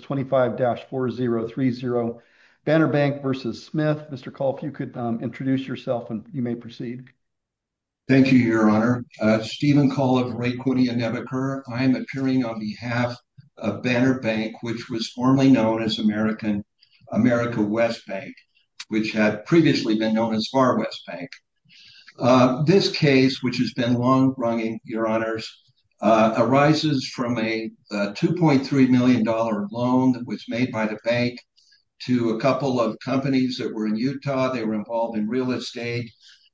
25-4030. Banner Bank v. Smith. Mr. Cole, if you could introduce yourself and you may proceed. Thank you, Your Honor. Stephen Cole of Raquidia Nebuchadnezzar. I am appearing on behalf of Banner Bank, which was formerly known as America West Bank, which had previously been known as Far West Bank. This case, which has been long running, Your Honors, arises from a $2.3 million loan that was made by the bank to a couple of companies that were in Utah. They were involved in real estate.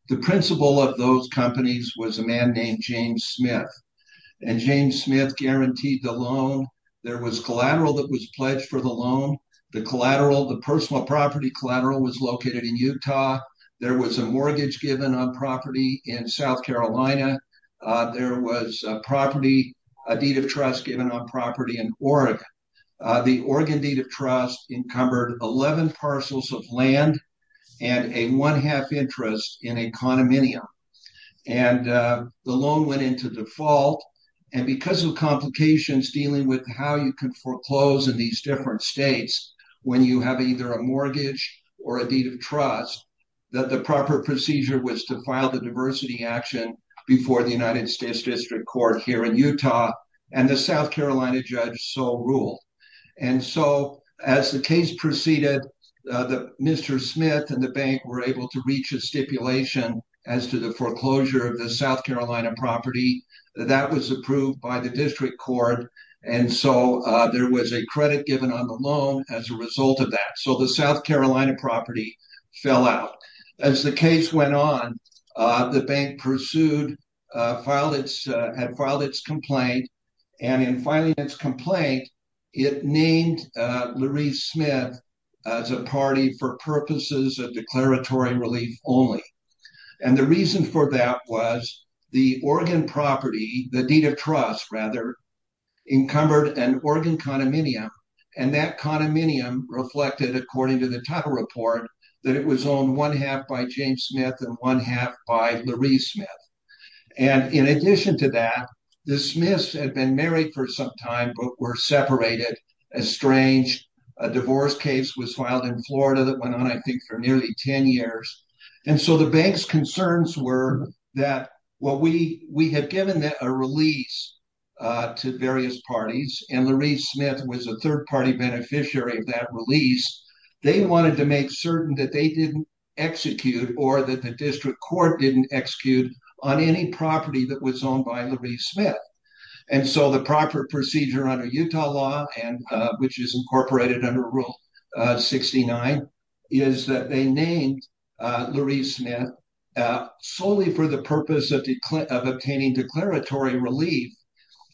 The principal of those companies was a man named James Smith, and James Smith guaranteed the loan. There was collateral that was pledged for the loan. The collateral, the personal property collateral, was located in Utah. There was a mortgage given on property in South Carolina. There was a deed of trust given on property in Oregon. The Oregon deed of trust encumbered 11 parcels of land and a one-half interest in a condominium. And the loan went into default. And because of complications dealing with how you can foreclose in these different states, when you have either a mortgage or a deed of trust, that the proper procedure was to file the diversity action before the United States District Court here in Utah, and the South Carolina judge so ruled. And so, as the case proceeded, Mr. Smith and the bank were able to reach a stipulation as to the foreclosure of the South Carolina property. That was approved by the district court, and so there was a credit given on the loan as a result of that. So, the South Carolina property fell out. As the case went on, the bank pursued, had filed its complaint. And in filing its complaint, it named Lurie Smith as a party for purposes of declaratory relief only. And the reason for that was the Oregon property, the deed of trust, rather, encumbered an Oregon condominium. And that condominium reflected, according to the title report, that it was owned one-half by James Smith and one-half by Lurie Smith. And in addition to that, the Smiths had been married for some time but were separated. A strange divorce case was filed in Florida that went on, I think, for nearly 10 years. And so, the bank's concerns were that, well, we had given a release to various parties, and Lurie Smith was a third-party beneficiary of that release. They wanted to make certain that they didn't execute or that the district court didn't execute on any property that was owned by Lurie Smith. And so, the proper procedure under Utah law, which is incorporated under Rule 69, is that they named Lurie Smith solely for the purpose of obtaining declaratory relief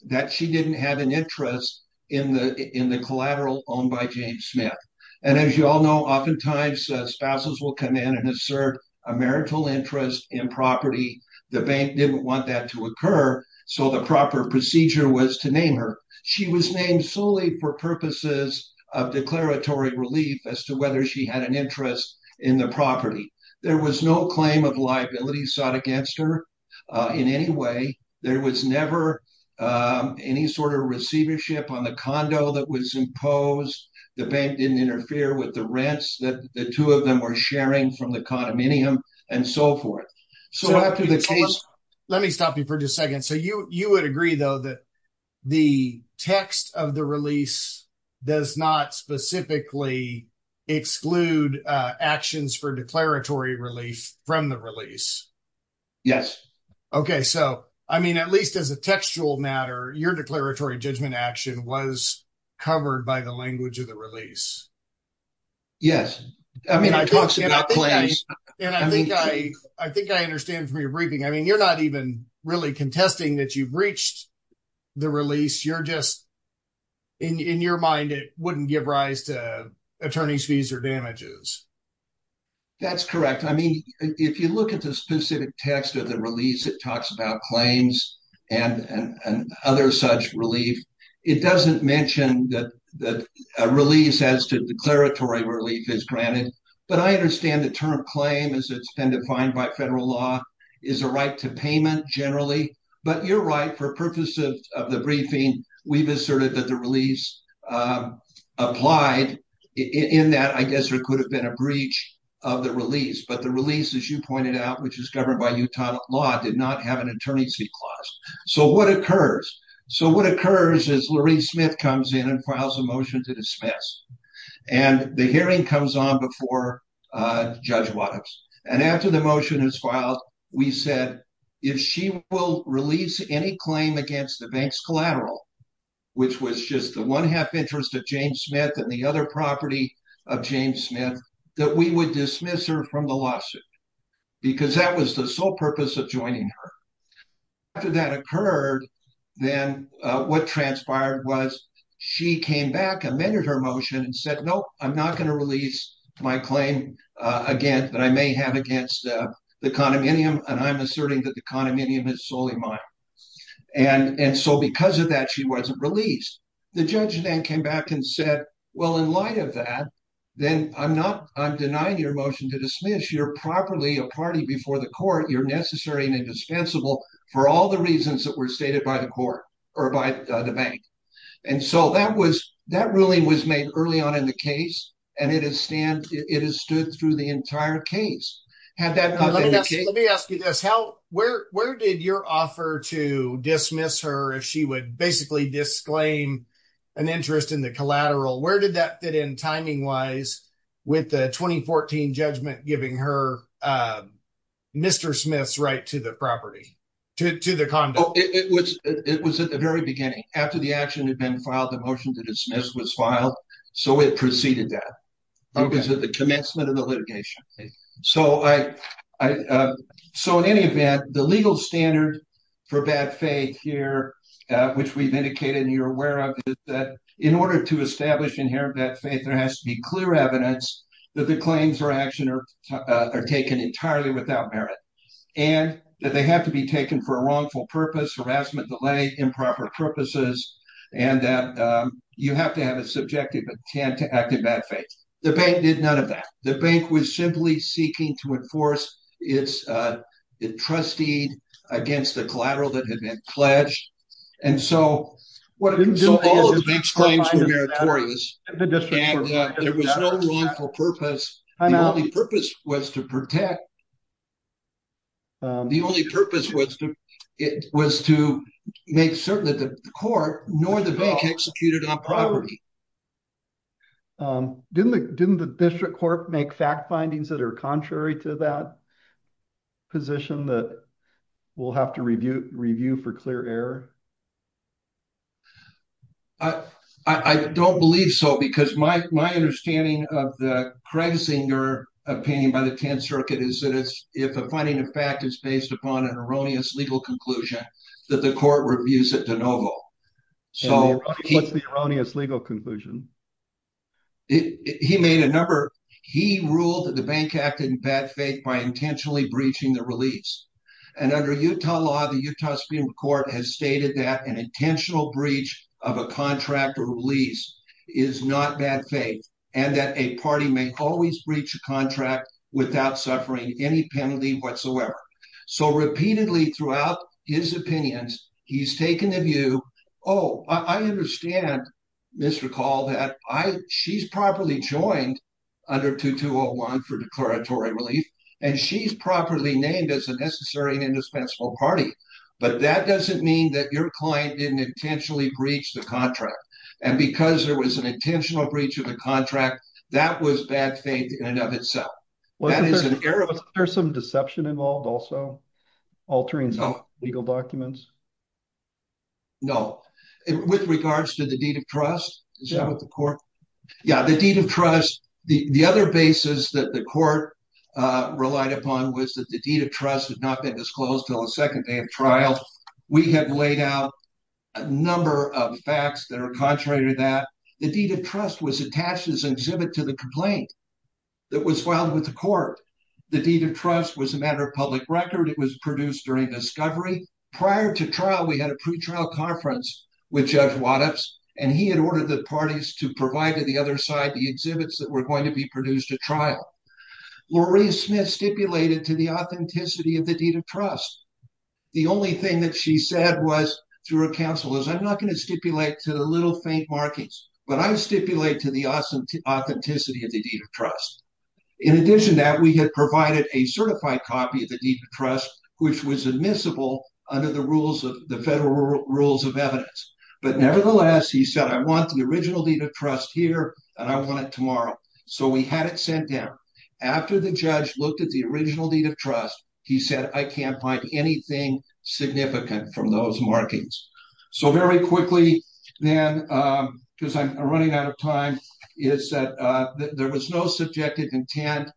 that she didn't have an interest in the collateral owned by James Smith. And as you all know, oftentimes, spouses will come in and assert a marital interest in property. The bank didn't want that to occur, so the proper procedure was to name her. She was named solely for purposes of declaratory relief as to whether she had an interest in the property. There was no claim of liability sought against her in any way. There was never any sort of receivership on the condo that was imposed. The bank didn't interfere with the rents that the two of them were sharing from the condominium and so forth. So, let me stop you for just a second. So, you would agree, though, that the text of the release does not specifically exclude actions for declaratory relief from the release? Yes. Okay. So, I mean, at least as a textual matter, your declaratory judgment action was covered by the language of the release. Yes. I mean, it talks about claims. And I think I understand from your briefing, I mean, you're not even really contesting that you breached the release. You're just, in your mind, it wouldn't give rise to attorney's fees or damages. That's correct. I mean, if you look at the specific text of the release, it talks about claims and other such relief. It doesn't mention that a release as to declaratory relief is granted. But I understand the term claim as it's been defined by federal law is a right to payment generally. But you're right. For purposes of the briefing, we've asserted that the release applied in that, I guess, there could have been a breach of the release. But the release, as you pointed out, which is governed by Utah law, did not have an attorney's fee clause. So, what occurs? So, what occurs is Loree Smith comes in and files a motion to dismiss. And the hearing comes on before Judge Wattops. And after the motion is filed, we said, if she will release any claim against the bank's collateral, which was just the one half interest of James Smith and the other property of James Smith, that we would dismiss her from the lawsuit. Because that was the sole purpose of joining her. After that occurred, then what transpired was she came back, amended her motion, and said, no, I'm not going to release my claim again that I may have against the condominium. And I'm asserting that the condominium is solely mine. And so, because of that, she wasn't released. The judge then came back and said, well, in light of that, then I'm denying your motion to dismiss. You're properly a party before the court. You're necessary and indispensable for all the reasons that were stated by the court or by the bank. And so, that ruling was made early on in the case. And it has stood through the entire case. Let me ask you this. Where did your offer to dismiss her if she would basically disclaim an interest in the collateral, where did that fit in timing-wise with the 2014 judgment giving her Mr. Smith's right to the property, to the condo? It was at the very beginning. After the action had been filed, the motion to dismiss was filed, so it preceded that. It was at the commencement of the litigation. So, in any event, the legal standard for bad faith here, which we've indicated and you're aware of, is that in order to establish inherent bad faith, there has to be clear evidence that the claims or action are taken entirely without merit, and that they have to be taken for a harassment delay, improper purposes, and that you have to have a subjective intent to act in bad faith. The bank did none of that. The bank was simply seeking to enforce its trustee against the collateral that had been pledged. And so, all of the bank's claims were meritorious. And there was no wrongful purpose. The only purpose was to protect. The only purpose was to make certain that the court nor the bank executed on property. Didn't the district court make fact findings that are contrary to that position that we'll have to review for clear error? I don't believe so, because my understanding of the crediting your opinion by the 10th Circuit is that it's if the finding of fact is based upon an erroneous legal conclusion that the court reviews it de novo. So, what's the erroneous legal conclusion? He made a number. He ruled that the bank acted in bad faith by intentionally breaching the release. And under Utah law, the Utah Supreme Court has stated that an intentional breach of a contract or release is not bad faith, and that a party may always breach a contract without suffering any penalty whatsoever. So, repeatedly throughout his opinions, he's taken the view, oh, I understand, Mr. Call, that she's properly joined under 2201 for declaratory relief, and she's properly named as a necessary and indispensable party. But that doesn't mean that your client didn't intentionally breach the contract. And because there was an intentional breach of the contract, that was bad faith in and of itself. Was there some deception involved also, altering some legal documents? No. With regards to the deed of trust, is that what the court? Yeah, the deed of trust, the other basis that the court relied upon was that the deed of trust had not been disclosed until the second day of trial. We have laid out a number of facts that are contrary to that. The deed of trust was attached as an exhibit to the complaint that was filed with the court. The deed of trust was a matter of public record. It was produced during discovery. Prior to trial, we had a pretrial conference with Judge Waddups, and he had ordered the parties to provide to the other side the exhibits that were going to be produced at trial. Lorraine Smith stipulated to the authenticity of the deed of trust. The only thing that she said was, through her counsel, is I'm not going to stipulate to the little faint markings, but I stipulate to the authenticity of the deed of trust. In addition to that, we had provided a certified copy of the deed of trust, which was admissible under the rules of the federal rules of evidence. But nevertheless, he said, I want the original deed of trust here and I want it tomorrow. So we had it sent down. After the judge looked at the original deed of trust, he said, I can't find anything significant from those markings. So very quickly then, because I'm running out of time, is that there was no subjective intent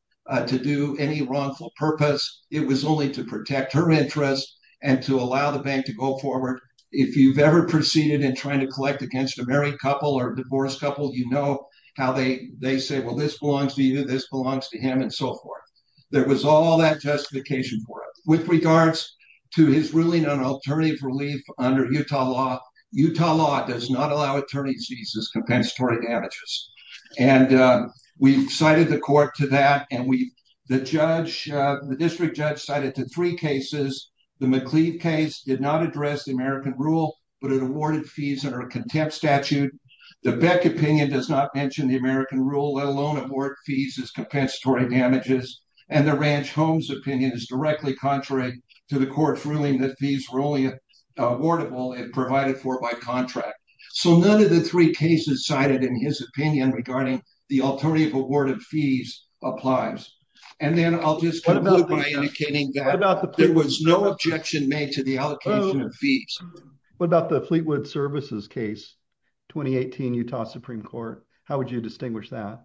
to do any wrongful purpose. It was only to protect her interest and to allow the bank to go forward. If you've ever proceeded in trying to collect against a married couple or divorced couple, you know how they say, well, this belongs to you, this belongs to him, and so forth. There was all that justification for it. With regards to his ruling on alternative relief under Utah law, Utah law does not allow attorneys to use this compensatory damages. And we've cited the court to that, and the district judge cited to three cases. The McCleave case did not address the American rule, but it awarded fees under a contempt statute. The Beck opinion does not mention the American rule, let alone abort fees as compensatory damages. And the Ranch Homes opinion is directly contrary to the court's ruling that these were only awardable and provided for by contract. So none of the three cases cited in his opinion regarding the alternative awarded fees applies. And then I'll just conclude by indicating that there was no objection made to the allocation of fees. What about the Fleetwood Services case, 2018 Utah Supreme Court? How would you distinguish that?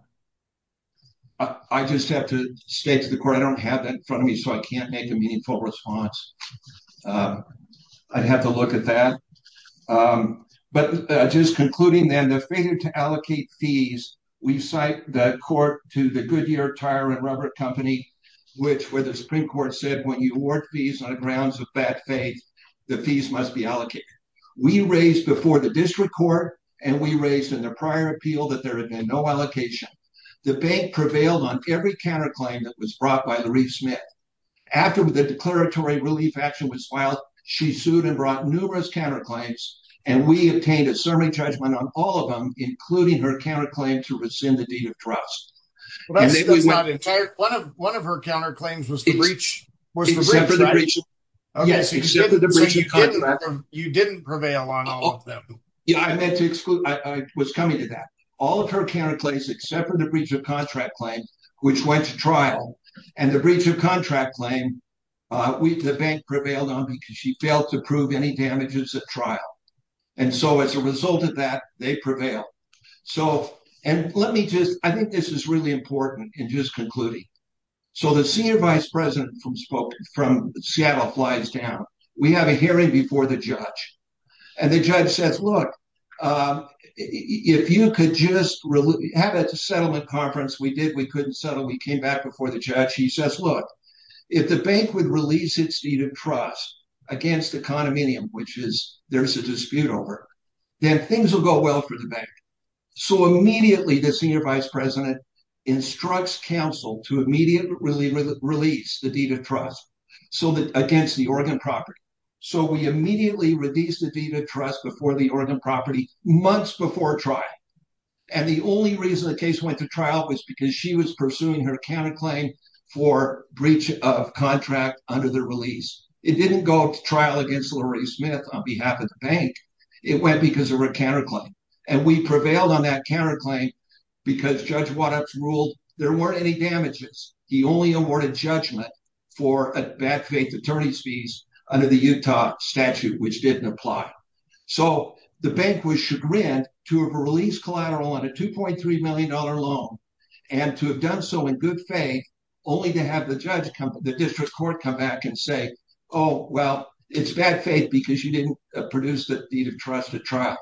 I just have to state to the court, I don't have that in front of me, so I can't make a meaningful response. I'd have to look at that. But just concluding then, the failure to allocate fees, we cite the court to the Goodyear Tire and Rubber Company, which where the Supreme Court said, when you award fees on grounds of bad faith, the fees must be allocated. We raised before the district court, and we raised in the prior appeal that there had been no allocation. The bank prevailed on every counterclaim that was brought by Laree Smith. After the declaratory relief action was filed, she sued and brought numerous counterclaims, and we obtained a serving judgment on all of them, including her counterclaim to rescind the deed of trust. Well, that's not entire. One of her counterclaims was the breach. Except for the breach of contract. You didn't prevail on all of them. Yeah, I meant to exclude. I was coming to that. All of her counterclaims except for the breach of contract claim, which went to trial, and the breach of contract claim, the bank prevailed on because she failed to prove any damages at trial. And so as a result of that, they prevailed. So, and let me just, I think this is really important in just concluding. So the senior vice president from Seattle flies down. We have a hearing before the judge. And the judge says, look, if you could just have a settlement conference, we did, we couldn't settle, we came back before the judge. He says, look, if the bank would release its deed of trust against the condominium, which there's a dispute over, then things will go well for the bank. So immediately the senior vice president instructs counsel to immediately release the deed of trust against the Oregon property. So we immediately released the deed of trust before the Oregon property, months before trial. And the only reason the case went to trial was because she was pursuing her counterclaim for breach of contract under the release. It didn't go to trial against Lori Smith on behalf of the bank. It went because of her counterclaim. And we prevailed on that counterclaim because Judge Wattups ruled there weren't any damages. He only awarded judgment for a bad faith attorney's fees under the Utah statute, which didn't apply. So the bank was chagrined to have a release collateral on a $2.3 million loan and to have done so in good faith, only to have the judge come, the district court come back and say, oh, well, it's bad faith because you didn't produce the deed of trust at trial.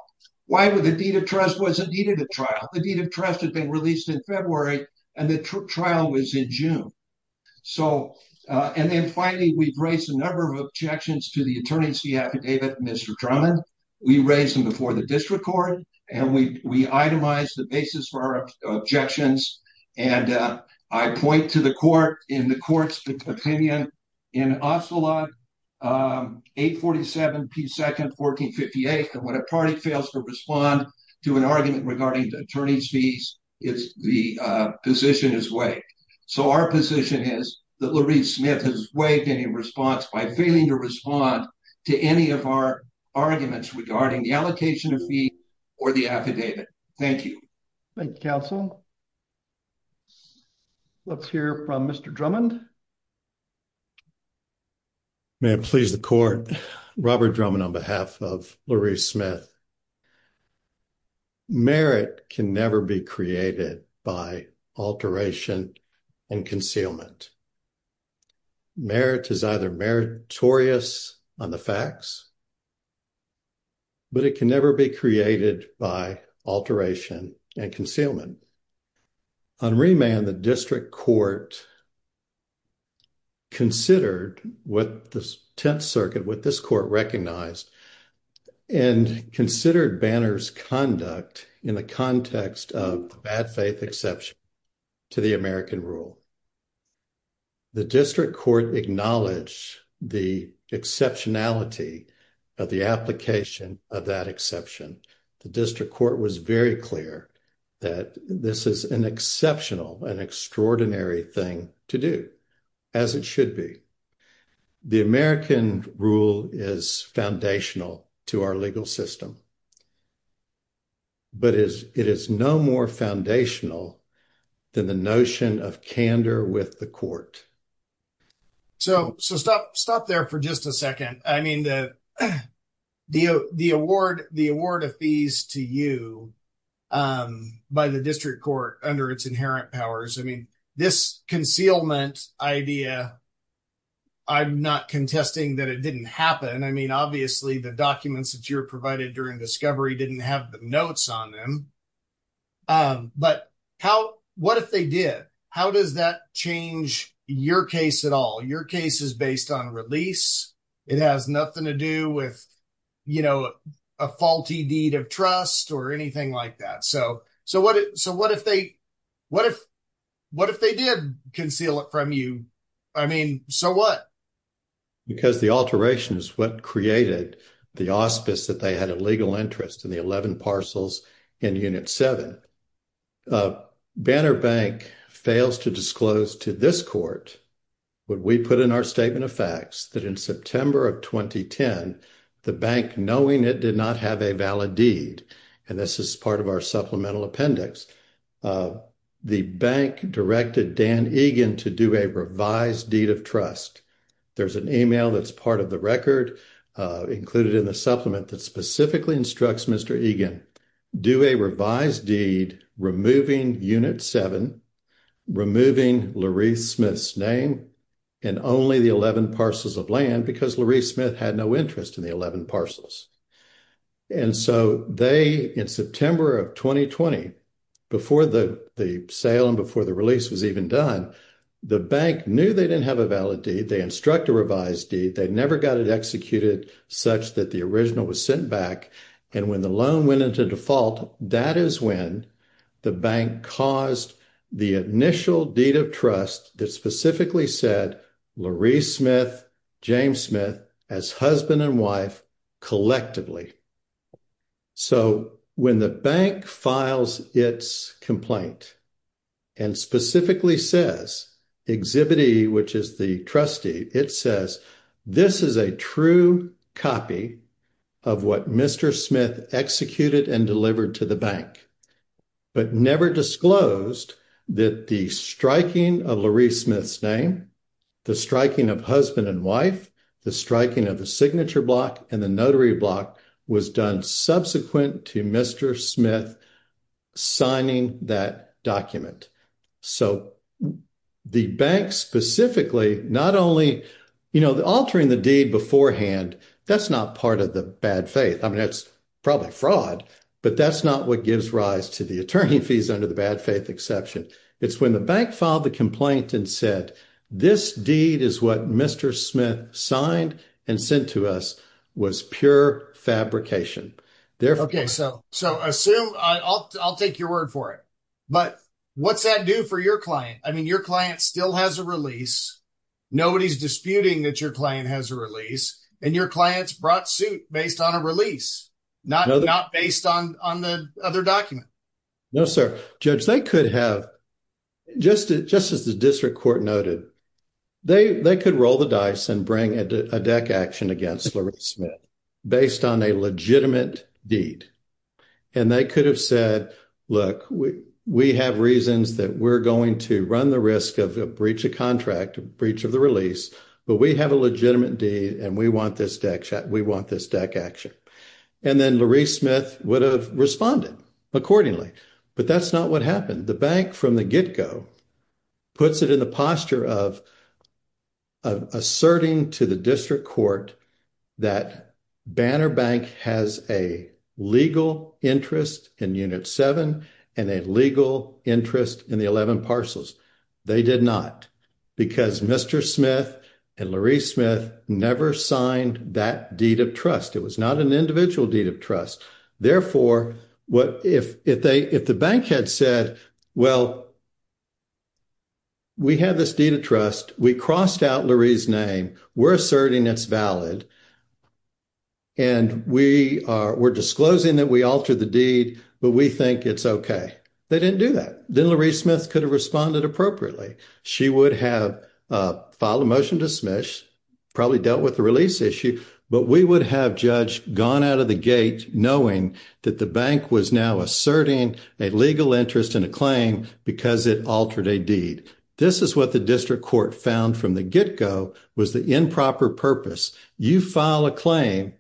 Why would the deed of trust wasn't needed at trial? The deed of trust had been released in February and the trial was in June. And then finally, we've raised a number of objections to the attorney's fee affidavit, Mr. Drummond. We raised them before the district court and we itemized the basis for our objections. And I point to the court in the court's opinion in Ocelot 847P2nd 1458, that when a party fails to respond to an argument regarding the attorney's fees, the position is waived. So our position is that Loree Smith has waived any response by failing to respond to any of our arguments regarding the allocation of fee or the affidavit. Thank you. Thank you, counsel. Let's hear from Mr. Drummond. May it please the court. Robert Drummond on behalf of Loree Smith. Merit can never be created by alteration and concealment. Merit is either meritorious on the facts, but it can never be created by alteration and concealment. On remand, the district court considered what the Tenth Circuit, what this court recognized, and considered Banner's conduct in the context of the bad faith exception to the American rule. The district court acknowledged the exceptionality of the application of that exception. The district court was very clear that this is an exceptional and extraordinary thing to do, as it should be. The American rule is foundational to our legal system, but it is no more foundational than the notion of candor with the court. So stop there for just a second. I mean, the award of fees to you by the district court under its inherent powers, I mean, this concealment idea, I'm not contesting that it didn't happen. I mean, obviously, the documents that you're provided during discovery didn't have the notes on them. But what if they did? How does that change your case at all? Your case is based on release. It has nothing to do with a faulty deed of trust or anything like that. So what if they did conceal it from you? I mean, so what? Because the alteration is what created the auspice that they had a legal interest in the 11 parcels in Unit 7. Banner Bank fails to disclose to this court what we put in our statement of facts that in September of 2010, the bank knowing it did not have a valid deed. And this is part of our supplemental appendix. The bank directed Dan Egan to do a revised deed of trust. There's an email that's part of the record included in the supplement that specifically instructs Mr. Egan, do a revised deed, removing Unit 7, removing Loree Smith's name, and only the 11 parcels of land because Loree Smith had no interest in the 11 parcels. And so they, in September of 2020, before the sale and before the release was even done, the bank knew they didn't have a valid deed. They instruct a revised deed. They never got it executed such that the original was sent back. And when the loan went into default, that is when the bank caused the initial deed of trust that specifically said Loree Smith, James Smith as husband and wife collectively. So when the bank files its complaint and specifically says, Exhibit E, which is the trustee, it says, this is a true copy of what Mr. Smith executed and delivered to the bank but never disclosed that the striking of Loree Smith's name, the striking of husband and wife, the striking of the signature block and the notary block was done subsequent to Mr. Smith signing that document. So the bank specifically, not only, altering the deed beforehand, that's not part of the bad faith. I mean, it's probably fraud, but that's not what gives rise to the attorney fees under the bad faith exception. It's when the bank filed the complaint and said, this deed is what Mr. Smith signed and sent to us was pure fabrication. Therefore- Okay, so assume, I'll take your word for it, but what's that do for your client? I mean, your client still has a release. Nobody's disputing that your client has a release and your client's brought suit based on a release, not based on the other document. No, sir. Judge, they could have, just as the district court noted, they could roll the dice and bring a deck action against Loree Smith based on a legitimate deed. And they could have said, look, we have reasons that we're going to run the risk of a breach of contract, breach of the release, but we have a legitimate deed and we want this deck action. And then Loree Smith would have responded accordingly, but that's not what happened. The bank from the get-go puts it in the posture of asserting to the district court that Banner Bank has a legal interest in unit seven and a legal interest in the 11 parcels. They did not because Mr. Smith and Loree Smith never signed that deed of trust. It was not an individual deed of trust. Therefore, if the bank had said, well, we have this deed of trust, we crossed out Loree's name, we're asserting it's valid, and we're disclosing that we altered the deed, but we think it's okay. They didn't do that. Then Loree Smith could have responded appropriately. She would have filed a motion to smish, probably dealt with the release issue, but we would have, Judge, gone out of the gate knowing that the bank was now asserting a legal interest in a claim because it altered a deed. This is what the district court found from the get-go was the improper purpose. You file a claim,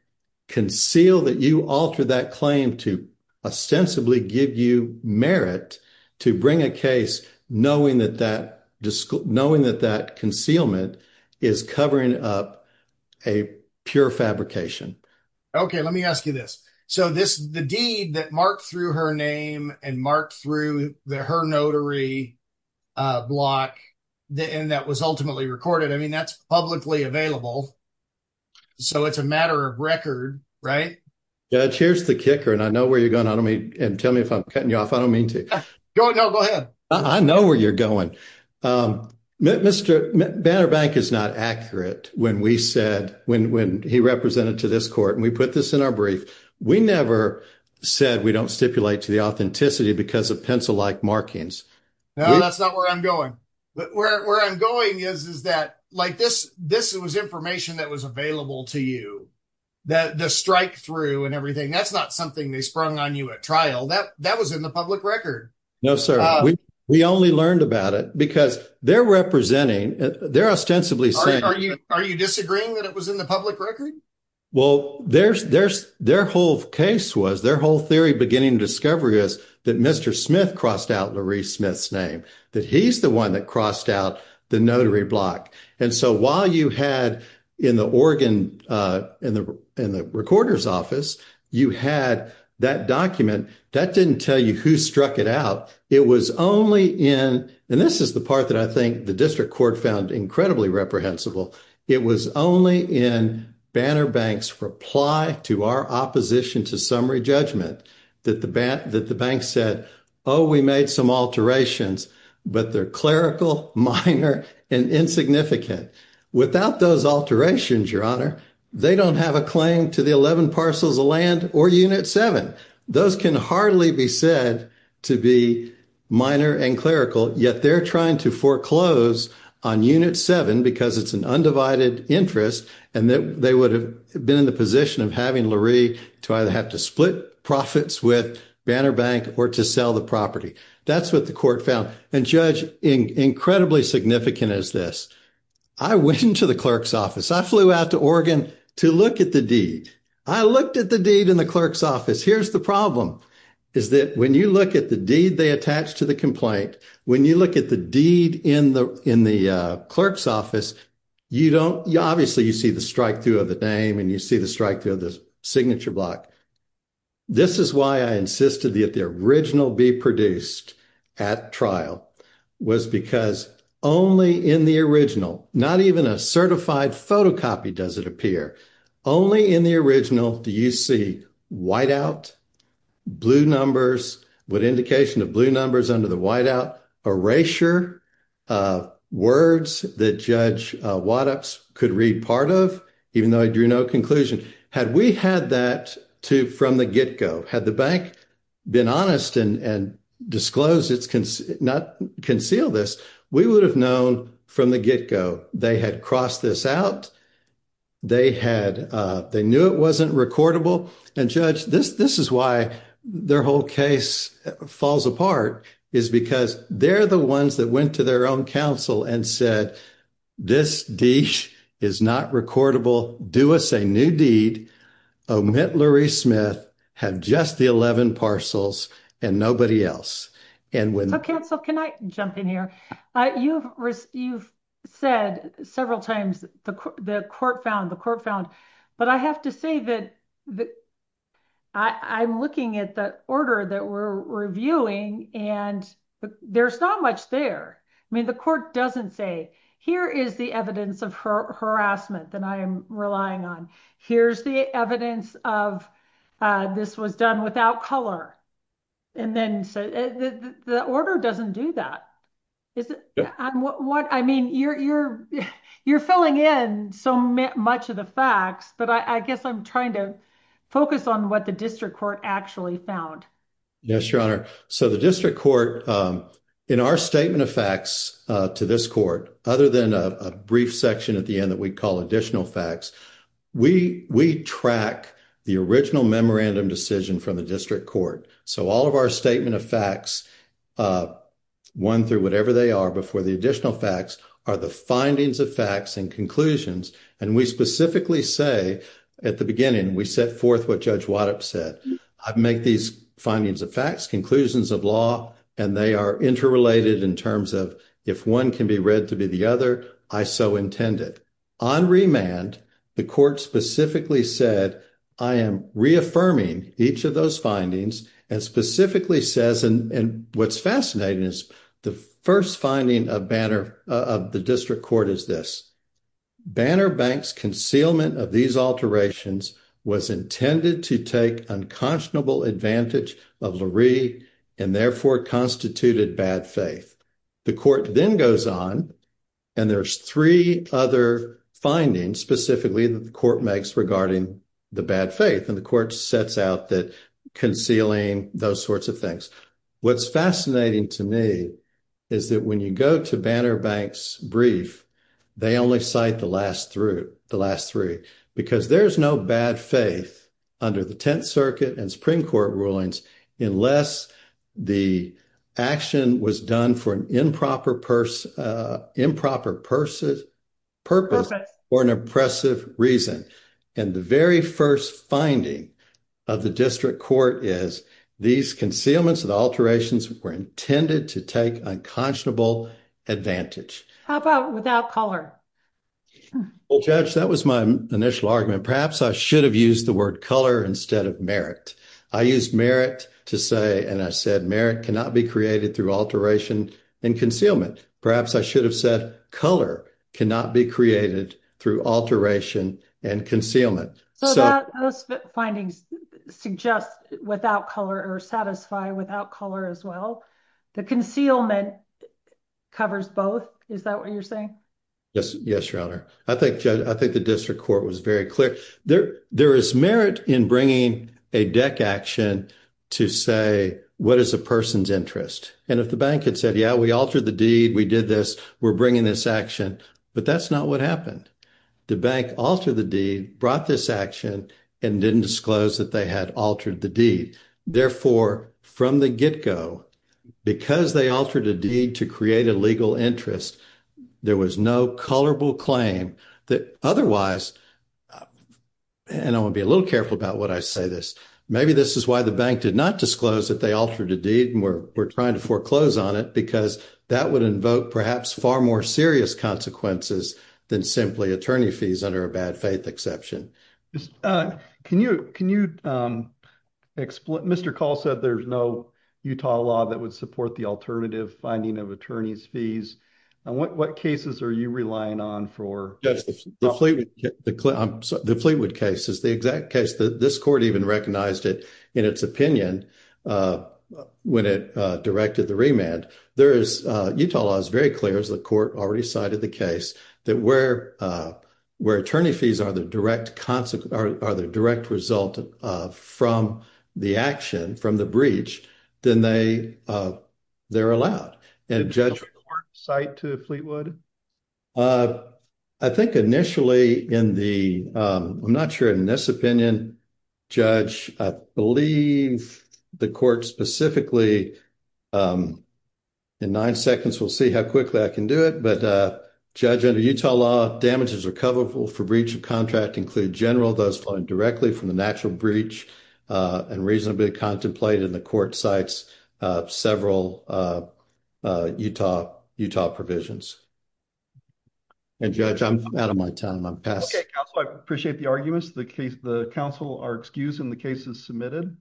conceal that you altered that claim to ostensibly give you merit to bring a case knowing that that concealment is covering up a pure fabrication. Okay, let me ask you this. So the deed that marked through her name and marked through her notary block and that was ultimately recorded, I mean, that's publicly available. So it's a matter of record, right? Judge, here's the kicker, and I know where you're going. I don't mean, and tell me if I'm cutting you off. I don't mean to. No, go ahead. I know where you're going. Banner Bank is not accurate when we said, when he represented to this court and we put this in our brief, we never said we don't stipulate to the authenticity because of pencil-like markings. No, that's not where I'm going. But where I'm going is that like this, this was information that was available to you, that the strikethrough and everything, that's not something they sprung on you at trial. That was in the public record. No, sir, we only learned about it because they're representing, they're ostensibly saying- Are you disagreeing that it was in the public record? Well, their whole case was, their whole theory beginning discovery is that Mr. Smith crossed out Larrice Smith's name, that he's the one that crossed out the notary block. And so while you had in the Oregon, in the recorder's office, you had that document, that didn't tell you who struck it out. It was only in, and this is the part that I think the district court found incredibly reprehensible. It was only in Banner Bank's reply to our opposition to summary judgment that the bank said, oh, we made some alterations, but they're clerical, minor, and insignificant. Without those alterations, your honor, they don't have a claim to the 11 parcels of land or unit seven. Those can hardly be said to be minor and clerical, yet they're trying to foreclose on unit seven because it's an undivided interest. And that they would have been in the position of having Larrice to either have to split profits with Banner Bank or to sell the property. That's what the court found. And Judge, incredibly significant as this. I went into the clerk's office. I flew out to Oregon to look at the deed. I looked at the deed in the clerk's office. Here's the problem, is that when you look at the deed, they attach to the complaint. When you look at the deed in the clerk's office, obviously you see the strikethrough of the name and you see the strikethrough of the signature block. This is why I insisted that the original be produced at trial, was because only in the original, not even a certified photocopy does it appear. Only in the original do you see whiteout, blue numbers, with indication of blue numbers under the whiteout, erasure, words that Judge Waddups could read part of, even though I drew no conclusion. Had we had that from the get-go, had the bank been honest and disclosed, it's not concealed this, we would have known from the get-go. They had crossed this out. They knew it wasn't recordable. Judge, this is why their whole case falls apart, is because they're the ones that went to their own counsel and said, this deed is not recordable, do us a new deed, omit Lurie Smith, have just the 11 parcels and nobody else. Counsel, can I jump in here? You've said several times the court found, the court found, but I have to say that I'm looking at the order that we're reviewing and there's not much there. I mean, the court doesn't say, here is the evidence of harassment that I am relying on. Here's the evidence of this was done without color. The order doesn't do that. Is it? I mean, you're filling in so much of the facts, but I guess I'm trying to focus on what the district court actually found. Yes, your honor. So the district court, in our statement of facts to this court, other than a brief section at the end that we call additional facts, we track the original memorandum decision from the district court. So all of our statement of facts, one through whatever they are before the additional facts are the findings of facts and conclusions. And we specifically say at the beginning, we set forth what judge Wattup said. I've made these findings of facts, conclusions of law, and they are interrelated in terms of if one can be read to be the other, I so intended. On remand, the court specifically said, I am reaffirming each of those findings and specifically says, and what's fascinating is the first finding of the district court is this. Banner Bank's concealment of these alterations was intended to take unconscionable advantage of Lurie and therefore constituted bad faith. The court then goes on and there's three other findings specifically that the court makes regarding the bad faith. And the court sets out that concealing those sorts of things. What's fascinating to me is that when you go to Banner Bank's brief, they only cite the last three, because there's no bad faith under the 10th Circuit and Supreme Court rulings unless the action was done for an improper purpose or an oppressive reason. And the very first finding of the district court is these concealments and alterations were intended to take unconscionable advantage. How about without color? Well, Judge, that was my initial argument. Perhaps I should have used the word color instead of merit. I used merit to say, and I said merit cannot be created through alteration and concealment. Perhaps I should have said color cannot be created through alteration and concealment. So those findings suggest without color or satisfy without color as well. The concealment covers both. Is that what you're saying? Yes, Your Honor. I think the district court was very clear. There is merit in bringing a deck action to say, what is a person's interest? And if the bank had said, yeah, we altered the deed. We did this. We're bringing this action. But that's not what happened. The bank altered the deed, brought this action and didn't disclose that they had altered the deed. Therefore, from the get-go, because they altered a deed to create a legal interest, there was no colorable claim that otherwise, and I want to be a little careful about what I say this. Maybe this is why the bank did not disclose that they altered a deed and we're trying to foreclose on it because that would invoke perhaps far more serious consequences than simply attorney fees under a bad faith exception. Can you explain, Mr. Call said there's no Utah law that would support the alternative finding of attorney's fees. And what cases are you relying on for? The Fleetwood case is the exact case that this court even recognized it in its opinion when it directed the remand. There is, Utah law is very clear as the court already cited the case that where attorney fees are the direct result from the action, from the breach, then they're allowed. And Judge- Does the court cite to Fleetwood? I think initially in the, I'm not sure in this opinion, Judge, I believe the court specifically in nine seconds, we'll see how quickly I can do it. But Judge, under Utah law, damages recoverable for breach of contract include general, those flowing directly from the natural breach and reasonably contemplated in the court cites several Utah provisions. And Judge, I'm out of my time. I'm past- Okay, Counselor, I appreciate the arguments. The counsel are excused and the case is submitted.